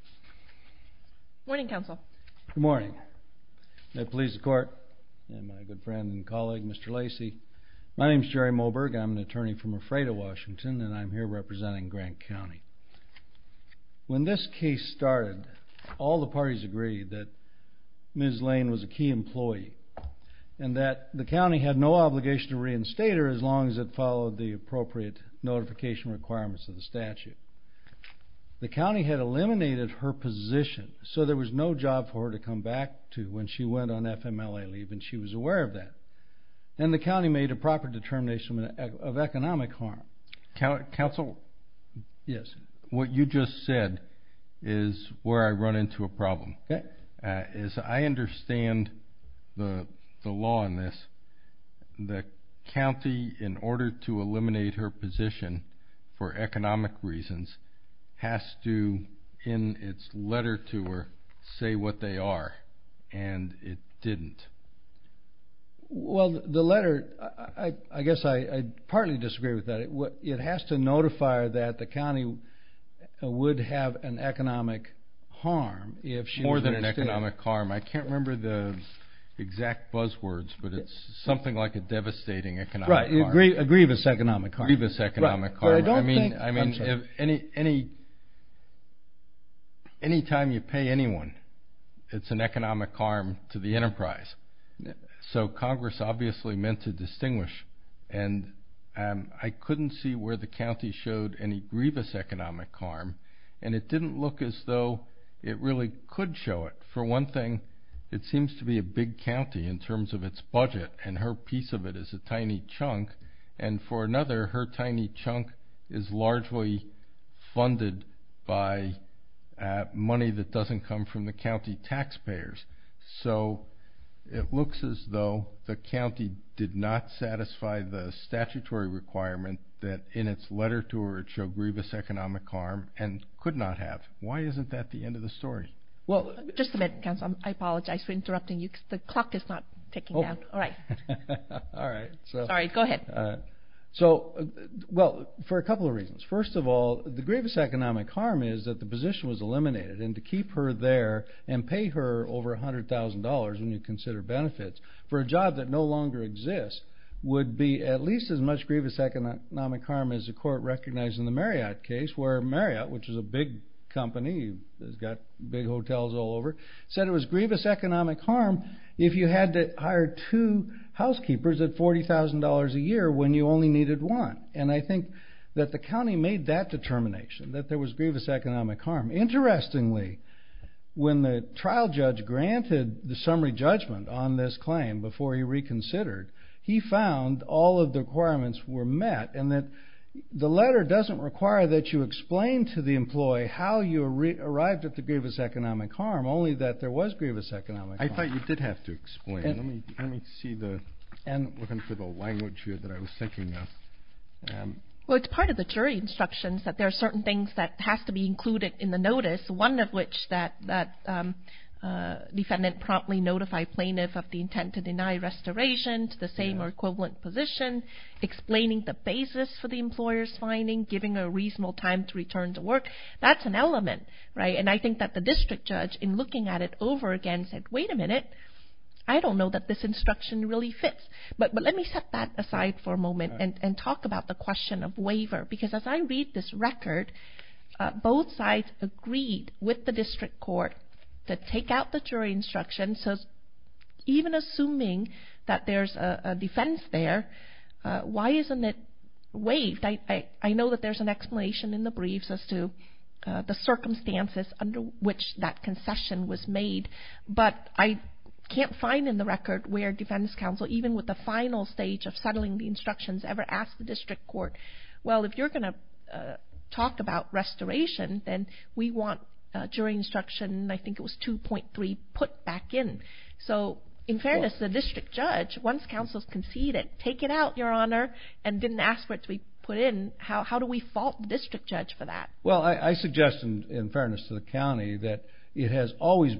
Good morning, counsel. Good morning. The police, the court, and my good friend and colleague, Mr. Lacey. My name is Jerry Moberg. I'm an attorney from Ephrata, Washington, and I'm here representing Grant County. When this case started, all the parties agreed that Ms. Lane was a key employee and that the So there was no job for her to come back to when she went on FMLA leave, and she was aware of that. And the county made a proper determination of economic harm. Counsel? Yes. What you just said is where I run into a problem. As I understand the law in this, the county, in order to eliminate her it's letter to her, say what they are, and it didn't. Well, the letter, I guess I partly disagree with that. It has to notify her that the county would have an economic harm if she was reinstated. More than an economic harm. I can't remember the exact buzzwords, but it's something like a devastating economic harm. A grievous economic harm. I mean, any time you pay anyone, it's an economic harm to the enterprise. So Congress obviously meant to distinguish, and I couldn't see where the county showed any grievous economic harm, and it didn't look as though it really could show it. For one thing, it And for another, her tiny chunk is largely funded by money that doesn't come from the county taxpayers. So it looks as though the county did not satisfy the statutory requirement that in its letter to her it showed grievous economic harm and could not have. Why isn't that the end of the story? Well, just a minute, counsel. I So, well, for a couple of reasons. First of all, the grievous economic harm is that the position was eliminated, and to keep her there and pay her over $100,000 when you consider benefits for a job that no longer exists would be at least as much grievous economic harm as the court recognized in the Marriott case, where Marriott, which is a big company that's got big hotels all over Marriott, said it was grievous economic harm if you had to hire two housekeepers at $40,000 a year when you only needed one. And I think that the county made that determination, that there was grievous economic harm. Interestingly, when the trial judge granted the summary judgment on this claim before he reconsidered, he found all of the requirements were met, and that the letter doesn't require that you explain to the employee how you arrived at the grievous economic harm, only that there was grievous economic harm. I thought you did have to explain it. Let me see the language here that I was thinking of. Well, it's part of the jury instructions that there are certain things that have to be included in the notice, one of which that defendant promptly notified plaintiff of the intent to deny restoration to the same or equivalent position, explaining the basis for the employer's finding, giving a reasonable time to return to work. That's an element, right? And I think that the district judge, in looking at it over again, said, wait a minute, I don't know that this instruction really fits. But let me set that aside for a moment and talk about the question of waiver. Because as I read this record, both sides agreed with the district court to take out the jury instructions. So even assuming that there's a defense there, why isn't it waived? I know that there's an explanation in the briefs as to the circumstances under which that concession was made. But I can't find in the record where defense counsel, even with the final stage of settling the instructions, ever asked the district court, well, if you're going to talk about restoration, then we want jury instruction, I think it was 2.3, put back in. So, in fairness to the district judge, once counsel has conceded, take it out, your honor, and didn't ask for it to be put in, how do we fault the district judge for that? And so, the county has been consistent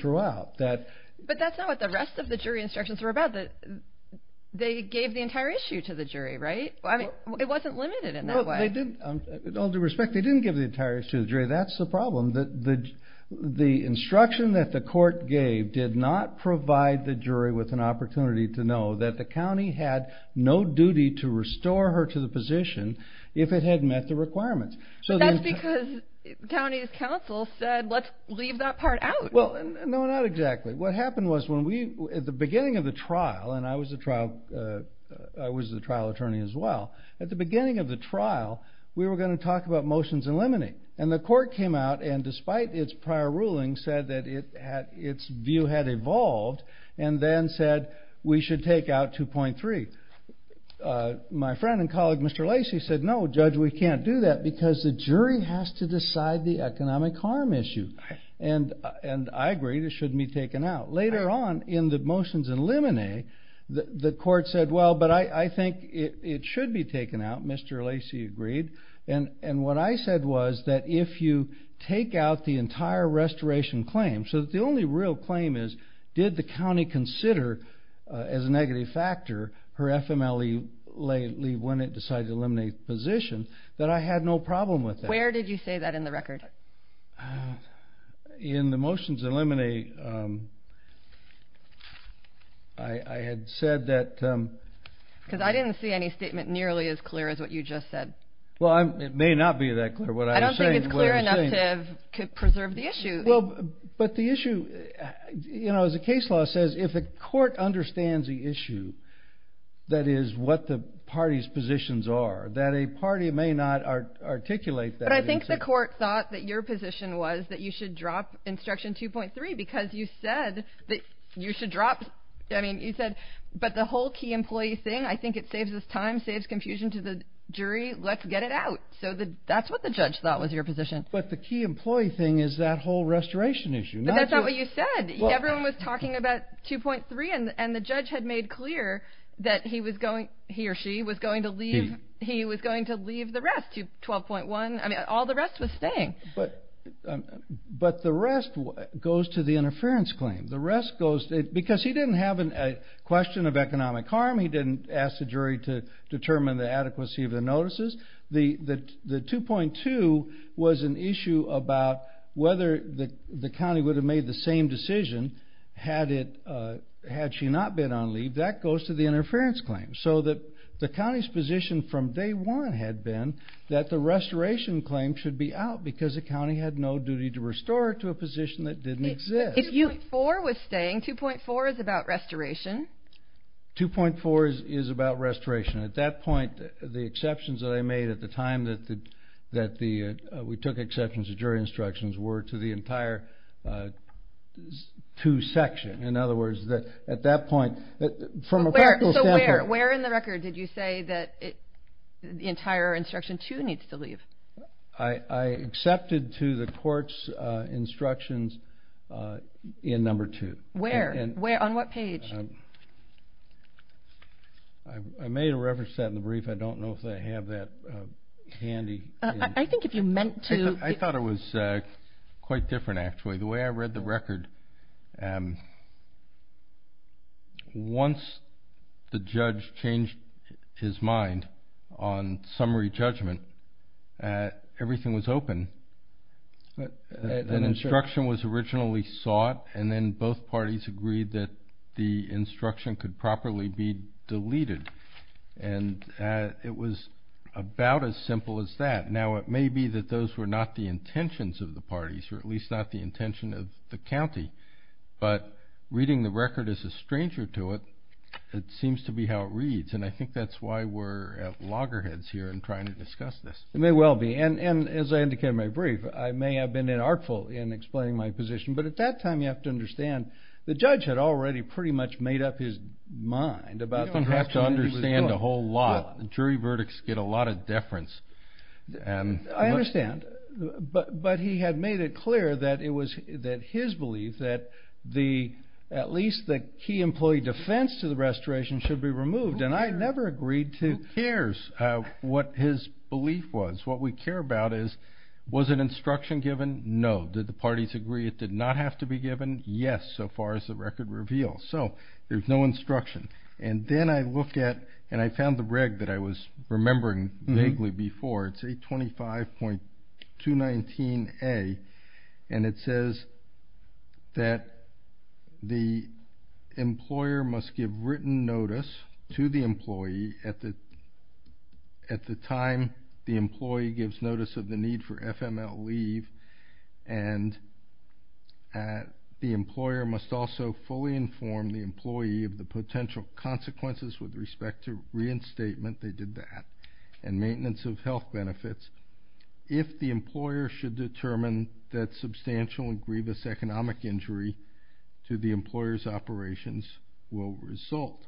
throughout. But that's not what the rest of the jury instructions were about. They gave the entire issue to the jury, right? It wasn't limited in that way. In all due respect, they didn't give the entire issue to the jury. That's the problem. The instruction that the court gave did not provide the jury with an opportunity to know that the county had no duty to restore her to the position if it had met the requirements. But that's because county's counsel said, let's leave that part out. Well, no, not exactly. What happened was, at the beginning of the trial, and I was the trial attorney as well, at the beginning of the trial, we were going to talk about motions eliminating. And the court came out, and despite its prior ruling, said that its view had evolved, and then said we should take out 2.3. My friend and colleague, Mr. Lacey, said, no, Judge, we can't do that, because the jury has to decide the economic harm issue. And I agreed it shouldn't be taken out. Later on, in the motions eliminate, the court said, well, but I think it should be taken out, Mr. Lacey agreed. And what I said was that if you take out the entire restoration claim, so that the only real claim is, did the county consider as a negative factor her FMLE leave when it decided to eliminate the position, that I had no problem with that. Where did you say that in the record? In the motions eliminate, I had said that... Because I didn't see any statement nearly as clear as what you just said. Well, it may not be that clear, what I was saying. I don't think it's clear enough to preserve the issue. Well, but the issue, you know, as the case law says, if the court understands the issue, that is, what the party's positions are, that a party may not articulate that. But I think the court thought that your position was that you should drop instruction 2.3, because you said that you should drop, I mean, you said, but the whole key employee thing, I think it saves us time, saves confusion to the jury, let's get it out. So that's what the judge thought was your position. But the key employee thing is that whole restoration issue. But that's not what you said. Everyone was talking about 2.3, and the judge had made clear that he was going, he or she was going to leave, he was going to leave the rest, 12.1, I mean, all the rest was staying. But the rest goes to the interference claim. The rest goes to, because he didn't have a question of economic harm, he didn't ask the jury to determine the adequacy of the notices. The 2.2 was an issue about whether the county would have made the same decision had it, had she not been on leave. That goes to the interference claim. So that the county's position from day one had been that the restoration claim should be out, because the county had no duty to restore it to a position that didn't exist. 2.4 was staying. 2.4 is about restoration. 2.4 is about restoration. At that point, the exceptions that I made at the time that we took exceptions to jury instructions were to the entire 2 section. In other words, at that point, from a practical standpoint. So where in the record did you say that the entire instruction 2 needs to leave? I accepted to the court's instructions in number 2. Where? On what page? I made a reference to that in the brief. I don't know if they have that handy. I think if you meant to. I thought it was quite different, actually. The way I read the record, once the judge changed his mind on summary judgment, everything was open. An instruction was originally sought, and then both parties agreed that the instruction could properly be deleted. And it was about as simple as that. Now, it may be that those were not the intentions of the parties, or at least not the intention of the county. But reading the record as a stranger to it, it seems to be how it reads. And I think that's why we're at loggerheads here and trying to discuss this. It may well be. And as I indicated in my brief, I may have been unartful in explaining my position. But at that time, you have to understand, the judge had already pretty much made up his mind about what he was doing. You don't have to understand a whole lot. Jury verdicts get a lot of deference. I understand. But he had made it clear that it was his belief that at least the key employee defense to the restoration should be removed. And I never agreed to. Who cares what his belief was? What we care about is, was an instruction given? No. Did the parties agree it did not have to be given? Yes, so far as the record reveals. So there's no instruction. And then I looked at and I found the reg that I was remembering vaguely before. It's 825.219A. And it says that the employer must give written notice to the employee at the time the employee gives notice of the need for FML leave. And the employer must also fully inform the employee of the potential consequences with respect to reinstatement. They did that. And maintenance of health benefits. If the employer should determine that substantial and grievous economic injury to the employer's operations will result.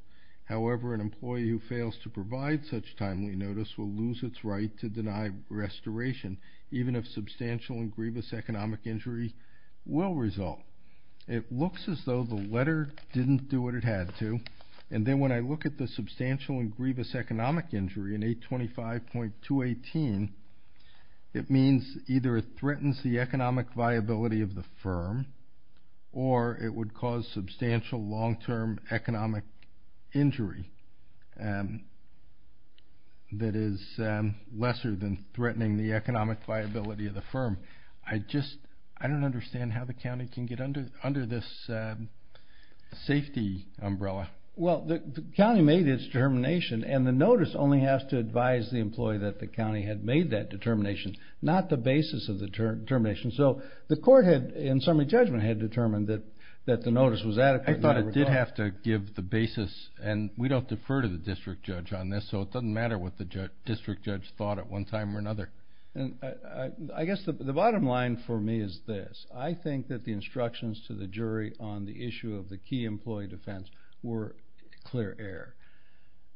However, an employee who fails to provide such timely notice will lose its right to deny restoration, even if substantial and grievous economic injury will result. It looks as though the letter didn't do what it had to. And then when I look at the substantial and grievous economic injury in 825.218, it means either it threatens the economic viability of the firm or it would cause substantial long-term economic injury that is lesser than threatening the economic viability of the firm. I don't understand how the county can get under this safety umbrella. Well, the county made its determination and the notice only has to advise the employee that the county had made that determination, not the basis of the determination. So the court in summary judgment had determined that the notice was adequate. I thought it did have to give the basis, and we don't defer to the district judge on this, so it doesn't matter what the district judge thought at one time or another. I guess the bottom line for me is this. I think that the instructions to the jury on the issue of the key employee defense were clear air.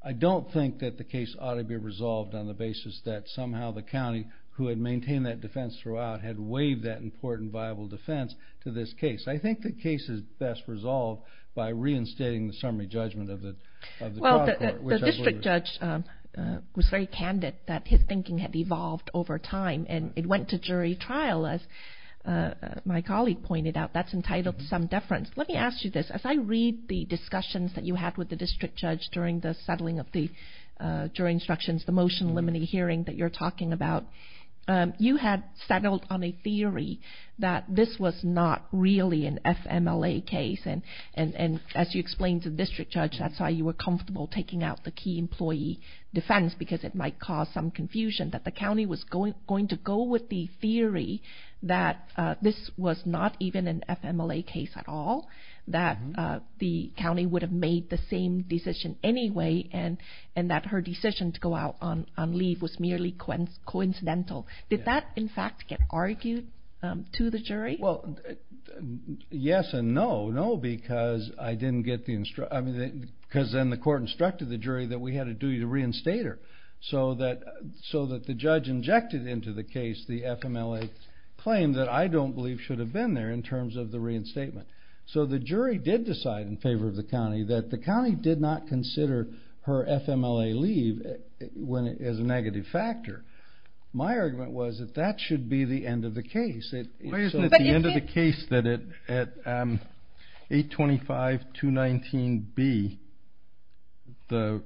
I don't think that the case ought to be resolved on the basis that somehow the county, who had maintained that defense throughout, had waived that important viable defense to this case. I think the case is best resolved by reinstating the summary judgment of the trial court. The district judge was very candid that his thinking had evolved over time, and it went to jury trial, as my colleague pointed out. That's entitled to some deference. Let me ask you this. As I read the discussions that you had with the district judge during the settling of the jury instructions, the motion limiting hearing that you're talking about, you had settled on a theory that this was not really an FMLA case, and as you explained to the district judge, that's why you were comfortable taking out the key employee defense, because it might cause some confusion that the county was going to go with the theory that this was not even an FMLA case at all, that the county would have made the same decision anyway, and that her decision to go out on leave was merely coincidental. Did that, in fact, get argued to the jury? Well, yes and no. No, because then the court instructed the jury that we had a duty to reinstate her, so that the judge injected into the case the FMLA claim that I don't believe should have been there in terms of the reinstatement. So the jury did decide in favor of the county that the county did not consider her FMLA leave as a negative factor. My argument was that that should be the end of the case. Why isn't it the end of the case that at 825.219.B, the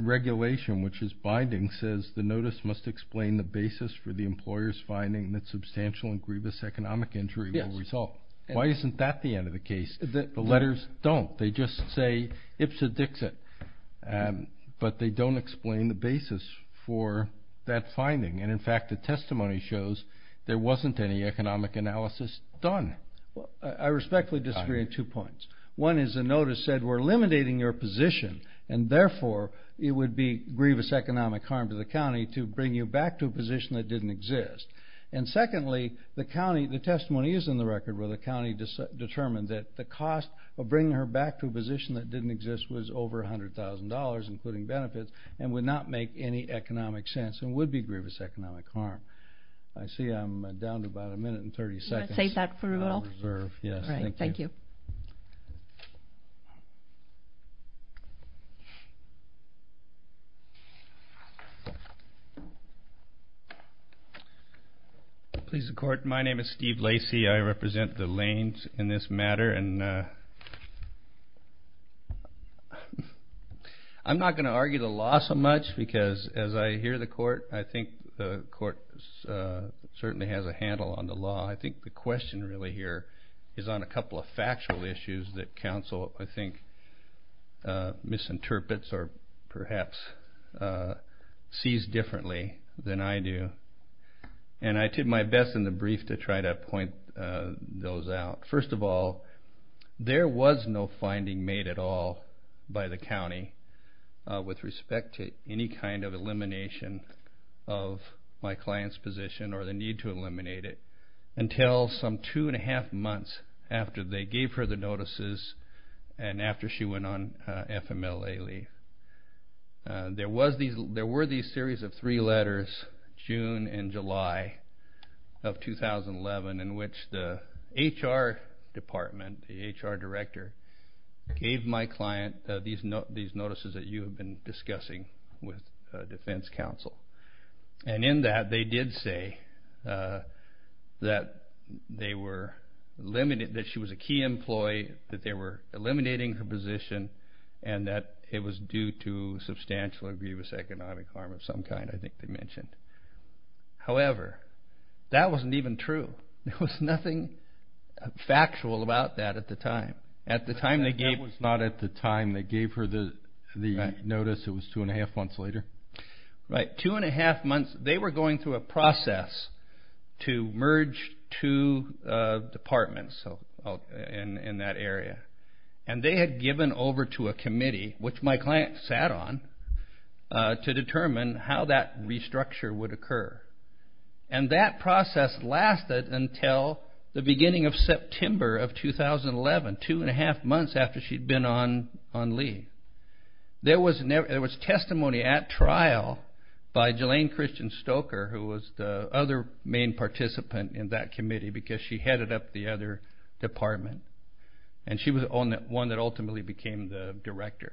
regulation, which is binding, says the notice must explain the basis for the employer's finding that substantial and grievous economic injury will result? Yes. Why isn't that the end of the case? The letters don't. They just say ipsa dixit, but they don't explain the basis for that finding, and in fact the testimony shows there wasn't any economic analysis done. I respectfully disagree on two points. One is the notice said we're eliminating your position, and therefore it would be grievous economic harm to the county to bring you back to a position that didn't exist. And secondly, the testimony is in the record where the county determined that the cost of bringing her back to a position that didn't exist was over $100,000, including benefits, and would not make any economic sense and would be grievous economic harm. I see I'm down to about a minute and 30 seconds. Do you want to save that for a little? Yes, thank you. All right. Thank you. Please, the Court. My name is Steve Lacey. I represent the lanes in this matter. And I'm not going to argue the law so much, because as I hear the Court, I think the Court certainly has a handle on the law. I think the question really here is on a couple of factual issues that counsel, I think, misinterprets or perhaps sees differently than I do. And I did my best in the brief to try to point those out. First of all, there was no finding made at all by the county with respect to any kind of elimination of my client's position or the need to eliminate it until some two-and-a-half months after they gave her the notices and after she went on FMLA leave. There were these series of three letters, June and July of 2011, in which the HR department, the HR director, gave my client these notices that you have been discussing with defense counsel. And in that, they did say that she was a key employee, that they were eliminating her position, and that it was due to substantial egregious economic harm of some kind, I think they mentioned. However, that wasn't even true. There was nothing factual about that at the time. That was not at the time they gave her the notice. It was two-and-a-half months later? Right. Two-and-a-half months. They were going through a process to merge two departments in that area. And they had given over to a committee, which my client sat on, to determine how that restructure would occur. And that process lasted until the beginning of September of 2011, two-and-a-half months after she'd been on leave. There was testimony at trial by Jelaine Christian Stoker, who was the other main participant in that committee because she headed up the other department. And she was the one that ultimately became the director,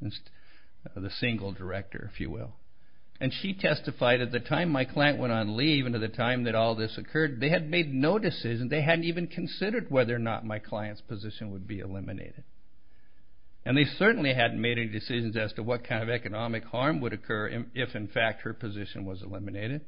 the single director, if you will. And she testified at the time my client went on leave and at the time that all this occurred, they had made no decisions. They hadn't even considered whether or not my client's position would be eliminated. And they certainly hadn't made any decisions as to what kind of economic harm would occur if, in fact, her position was eliminated.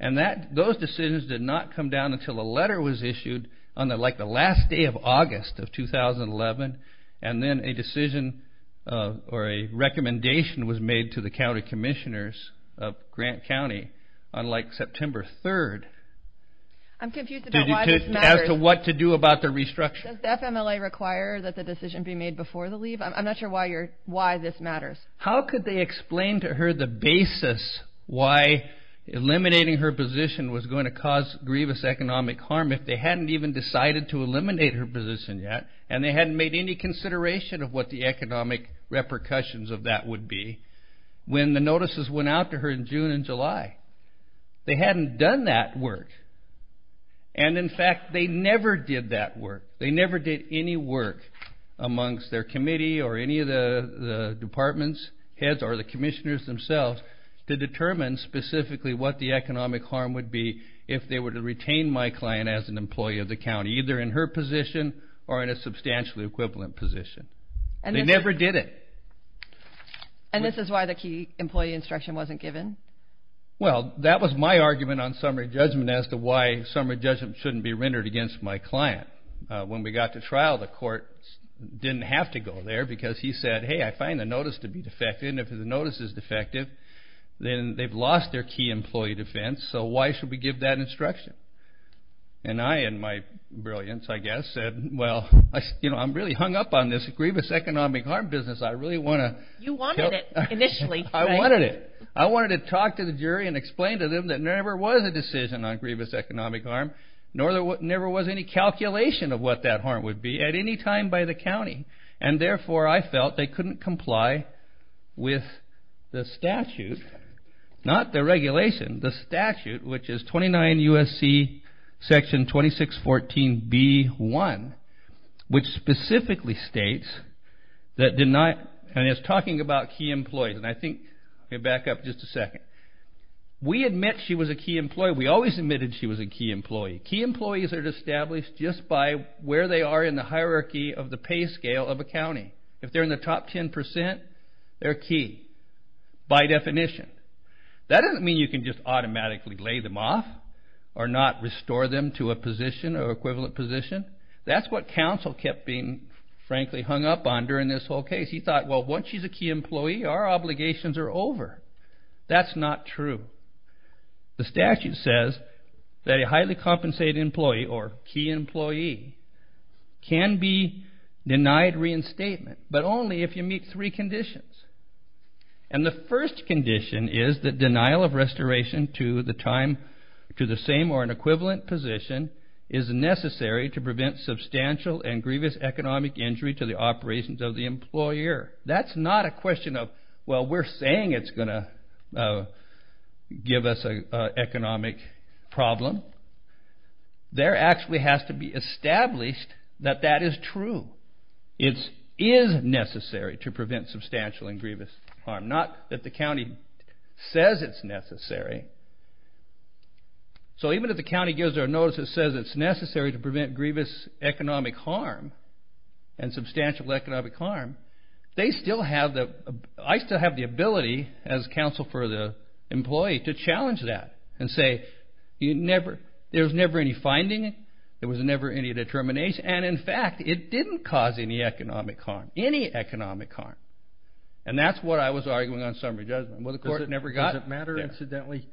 And those decisions did not come down until a letter was issued on, like, the last day of August of 2011. And then a decision or a recommendation was made to the county commissioners of Grant County on, like, September 3rd. I'm confused about why this matters. As to what to do about the restructure. Does FMLA require that the decision be made before the leave? I'm not sure why this matters. How could they explain to her the basis why eliminating her position was going to cause grievous economic harm if they hadn't even decided to eliminate her position yet and they hadn't made any consideration of what the economic repercussions of that would be when the notices went out to her in June and July? They hadn't done that work. And, in fact, they never did that work. They never did any work amongst their committee or any of the department's heads or the commissioners themselves to determine specifically what the economic harm would be if they were to retain my client as an employee of the county, either in her position or in a substantially equivalent position. They never did it. And this is why the key employee instruction wasn't given? Well, that was my argument on summary judgment as to why summary judgment shouldn't be rendered against my client. When we got to trial, the court didn't have to go there because he said, hey, I find the notice to be defective, and if the notice is defective, then they've lost their key employee defense, so why should we give that instruction? And I, in my brilliance, I guess, said, well, you know, I'm really hung up on this grievous economic harm business. I really want to... You wanted it initially, right? I wanted it. I wanted to talk to the jury and explain to them that there never was a decision on grievous economic harm, nor there never was any calculation of what that harm would be at any time by the county, and therefore I felt they couldn't comply with the statute, not the regulation, the statute, which is 29 U.S.C. section 2614 B.1, which specifically states that deny... And it's talking about key employees, and I think... Okay, back up just a second. We admit she was a key employee. We always admitted she was a key employee. Key employees are established just by where they are in the hierarchy of the pay scale of a county. If they're in the top 10%, they're key by definition. That doesn't mean you can just automatically lay them off or not restore them to a position or equivalent position. That's what counsel kept being, frankly, hung up on during this whole case. He thought, well, once she's a key employee, our obligations are over. That's not true. The statute says that a highly compensated employee or key employee can be denied reinstatement, but only if you meet three conditions, and the first condition is that denial of restoration to the same or an equivalent position is necessary to prevent substantial and grievous economic injury to the operations of the employer. That's not a question of, well, we're saying it's going to give us an economic problem. There actually has to be established that that is true. It is necessary to prevent substantial and grievous harm, not that the county says it's necessary. So even if the county gives their notice that says it's necessary to prevent grievous economic harm and substantial economic harm, I still have the ability as counsel for the employee to challenge that and say there was never any finding, there was never any determination, and in fact it didn't cause any economic harm, any economic harm, and that's what I was arguing on summary judgment. Does it matter incidentally,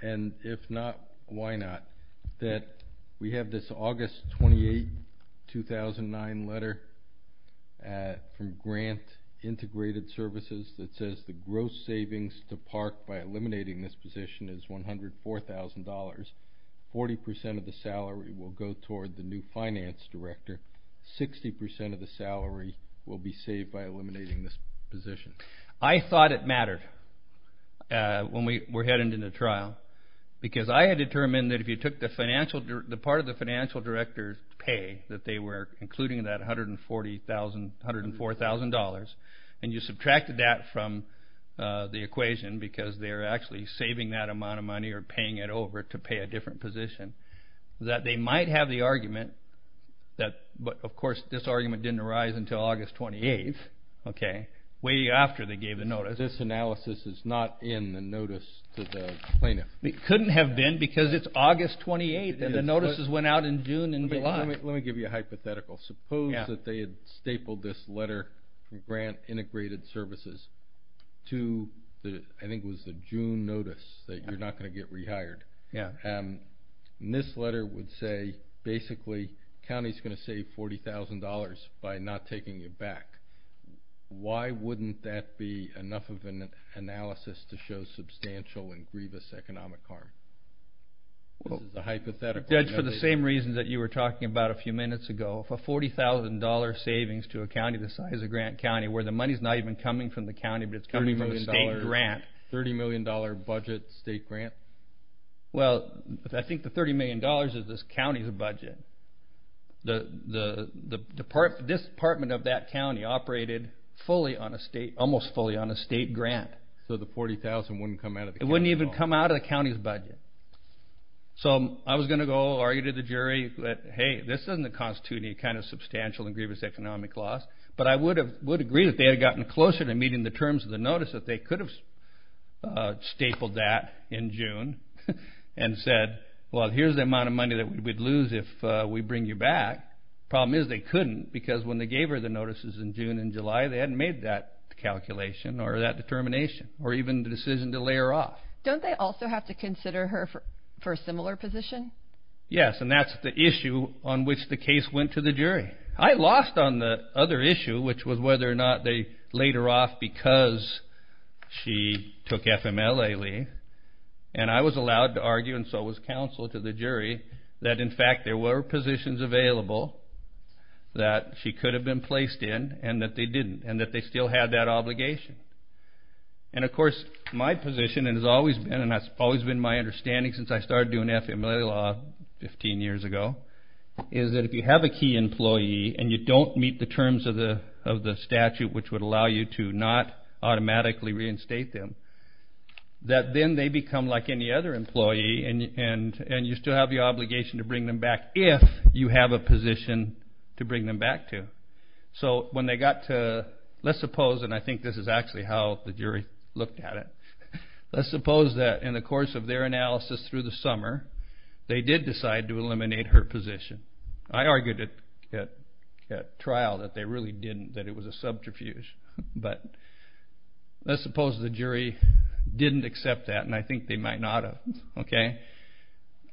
and if not, why not, that we have this August 28, 2009 letter from Grant Integrated Services that says the gross savings to park by eliminating this position is $104,000. Forty percent of the salary will go toward the new finance director. Sixty percent of the salary will be saved by eliminating this position. I thought it mattered when we were heading into the trial because I had determined that if you took the part of the financial director's pay, that they were including that $140,000, $104,000, and you subtracted that from the equation because they're actually saving that amount of money or paying it over to pay a different position, that they might have the argument that, but of course this argument didn't arise until August 28th, okay. Way after they gave the notice. This analysis is not in the notice to the plaintiff. It couldn't have been because it's August 28th, and the notices went out in June and July. Let me give you a hypothetical. Suppose that they had stapled this letter from Grant Integrated Services to, I think it was the June notice that you're not going to get rehired. Yeah. And this letter would say basically county's going to save $40,000 by not taking it back. Why wouldn't that be enough of an analysis to show substantial and grievous economic harm? This is a hypothetical. Judge, for the same reasons that you were talking about a few minutes ago, for $40,000 savings to a county the size of Grant County where the money's not even coming from the county but it's coming from a state grant. $30 million budget state grant? Well, I think the $30 million is this county's budget. This department of that county operated almost fully on a state grant. So the $40,000 wouldn't come out of the county's budget. It wouldn't even come out of the county's budget. So I was going to go argue to the jury that, hey, this doesn't constitute any kind of substantial and grievous economic loss, but I would agree that they had gotten closer to meeting the terms of the notice that they could have stapled that in June and said, well, here's the amount of money that we'd lose if we bring you back. The problem is they couldn't because when they gave her the notices in June and July, they hadn't made that calculation or that determination or even the decision to lay her off. Don't they also have to consider her for a similar position? Yes, and that's the issue on which the case went to the jury. I lost on the other issue, which was whether or not they laid her off because she took FMLA leave. And I was allowed to argue, and so was counsel to the jury, that, in fact, there were positions available that she could have been placed in and that they didn't and that they still had that obligation. And, of course, my position has always been, and that's always been my understanding since I started doing FMLA law 15 years ago, is that if you have a key employee and you don't meet the terms of the statute, which would allow you to not automatically reinstate them, that then they become like any other employee and you still have the obligation to bring them back if you have a position to bring them back to. So when they got to, let's suppose, and I think this is actually how the jury looked at it, let's suppose that in the course of their analysis through the summer, they did decide to eliminate her position. I argued at trial that they really didn't, that it was a subterfuge. But let's suppose the jury didn't accept that, and I think they might not have.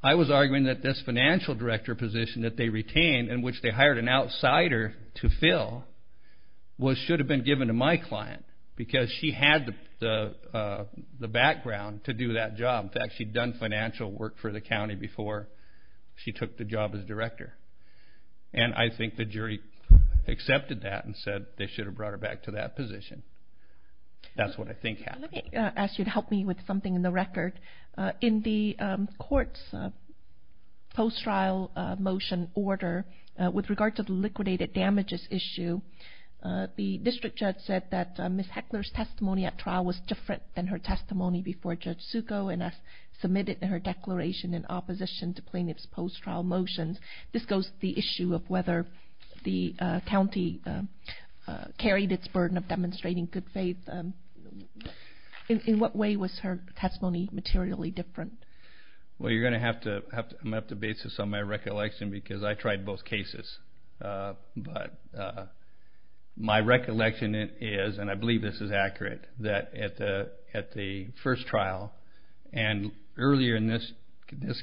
I was arguing that this financial director position that they retained in which they hired an outsider to fill should have been given to my client because she had the background to do that job. In fact, she'd done financial work for the county before she took the job as director. And I think the jury accepted that and said they should have brought her back to that position. That's what I think happened. Let me ask you to help me with something in the record. In the court's post-trial motion order, with regard to the liquidated damages issue, the district judge said that Ms. Heckler's testimony at trial was different than her testimony before Judge Succo and as submitted in her declaration in opposition to plaintiff's post-trial motions. This goes to the issue of whether the county carried its burden of demonstrating good faith. In what way was her testimony materially different? You're going to have to base this on my recollection because I tried both cases. But my recollection is, and I believe this is accurate, that at the first trial and earlier in this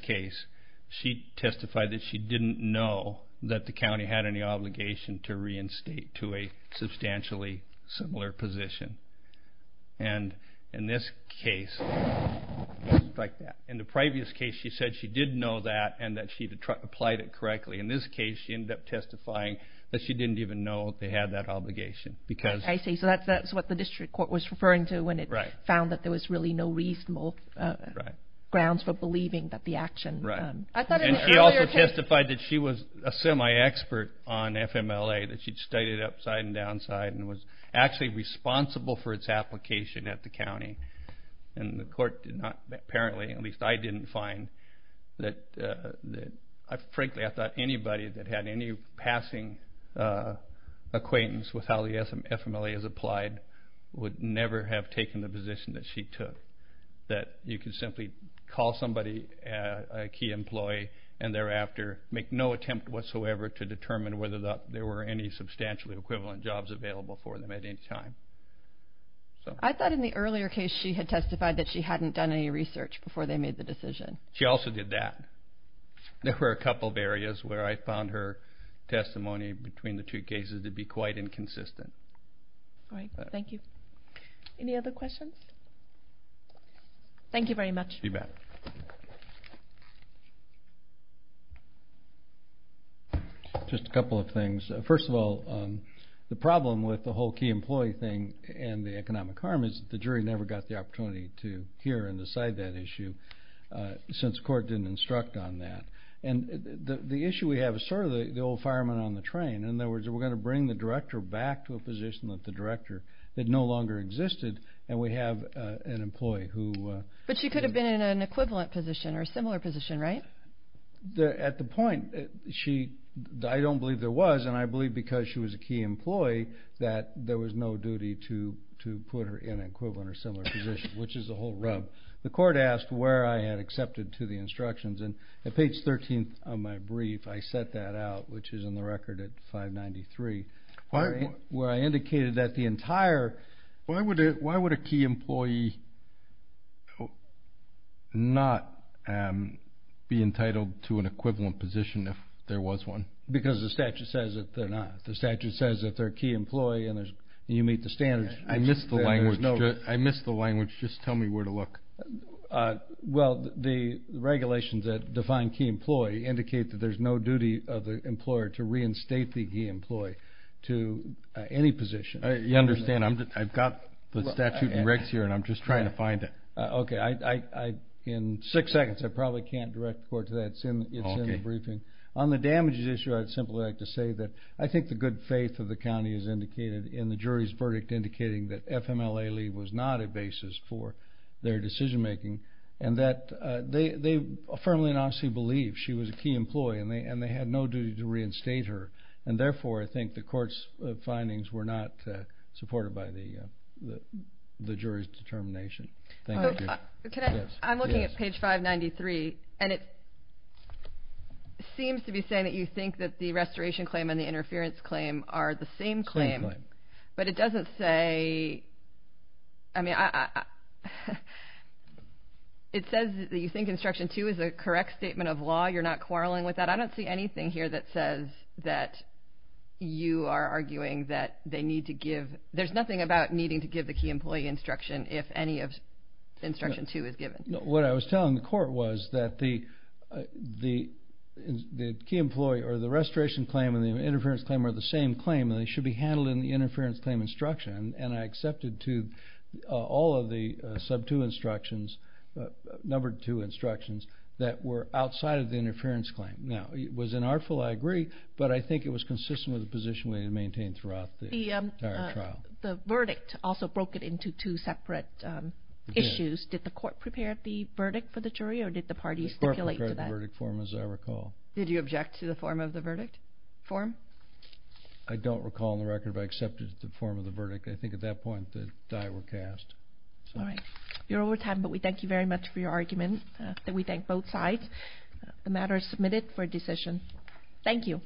case, she testified that she didn't know that the county had any obligation to reinstate to a substantially similar position. And in this case, it was like that. In the previous case, she said she did know that and that she'd applied it correctly. In this case, she ended up testifying that she didn't even know they had that obligation. I see. So that's what the district court was referring to when it found that there was really no reasonable grounds for believing that the action... And she also testified that she was a semi-expert on FMLA, that she'd studied it upside and downside and was actually responsible for its application at the county. And the court did not, apparently, at least I didn't find that. Frankly, I thought anybody that had any passing acquaintance with how the FMLA is applied would never have taken the position that she took, that you could simply call somebody a key employee and thereafter make no attempt whatsoever to determine whether there were any substantially equivalent jobs available for them at any time. I thought in the earlier case she had testified that she hadn't done any research before they made the decision. She also did that. There were a couple of areas where I found her testimony between the two cases to be quite inconsistent. All right. Thank you. Any other questions? Thank you very much. You bet. Just a couple of things. First of all, the problem with the whole key employee thing and the economic harm is that the jury never got the opportunity to hear and decide that issue. Since the court didn't instruct on that. And the issue we have is sort of the old fireman on the train. In other words, we're going to bring the director back to a position that the director had no longer existed, and we have an employee who... But she could have been in an equivalent position or a similar position, right? At the point, I don't believe there was, and I believe because she was a key employee that there was no duty to put her in an equivalent or similar position, which is a whole rub. The court asked where I had accepted to the instructions, and at page 13 of my brief, I set that out, which is in the record at 593, where I indicated that the entire... Why would a key employee not be entitled to an equivalent position if there was one? Because the statute says that they're not. The statute says that they're a key employee and you meet the standards. I missed the language. Just tell me where to look. Well, the regulations that define key employee indicate that there's no duty of the employer to reinstate the key employee to any position. You understand. I've got the statute and regs here, and I'm just trying to find it. Okay. In six seconds, I probably can't direct the court to that. It's in the briefing. On the damages issue, I'd simply like to say that I think the good faith of the county in the jury's verdict indicating that FMLA leave was not a basis for their decision making and that they firmly and honestly believe she was a key employee and they had no duty to reinstate her, and therefore I think the court's findings were not supported by the jury's determination. I'm looking at page 593, and it seems to be saying that you think that the restoration claim and the interference claim are the same claim. Same claim. But it doesn't say, I mean, it says that you think Instruction 2 is a correct statement of law. You're not quarreling with that. I don't see anything here that says that you are arguing that they need to give. There's nothing about needing to give the key employee instruction if any of Instruction 2 is given. What I was telling the court was that the key employee or the restoration claim and the interference claim are the same claim and they should be handled in the interference claim instruction, and I accepted to all of the Sub 2 instructions, Number 2 instructions, that were outside of the interference claim. Now, it was unartful, I agree, but I think it was consistent with the position we had maintained throughout the entire trial. The verdict also broke it into two separate issues. Did the court prepare the verdict for the jury or did the parties stipulate to that? The court prepared the verdict form, as I recall. Did you object to the form of the verdict form? I don't recall on the record, but I accepted the form of the verdict. I think at that point the die were cast. All right. You're over time, but we thank you very much for your argument. We thank both sides. The matter is submitted for decision. Thank you.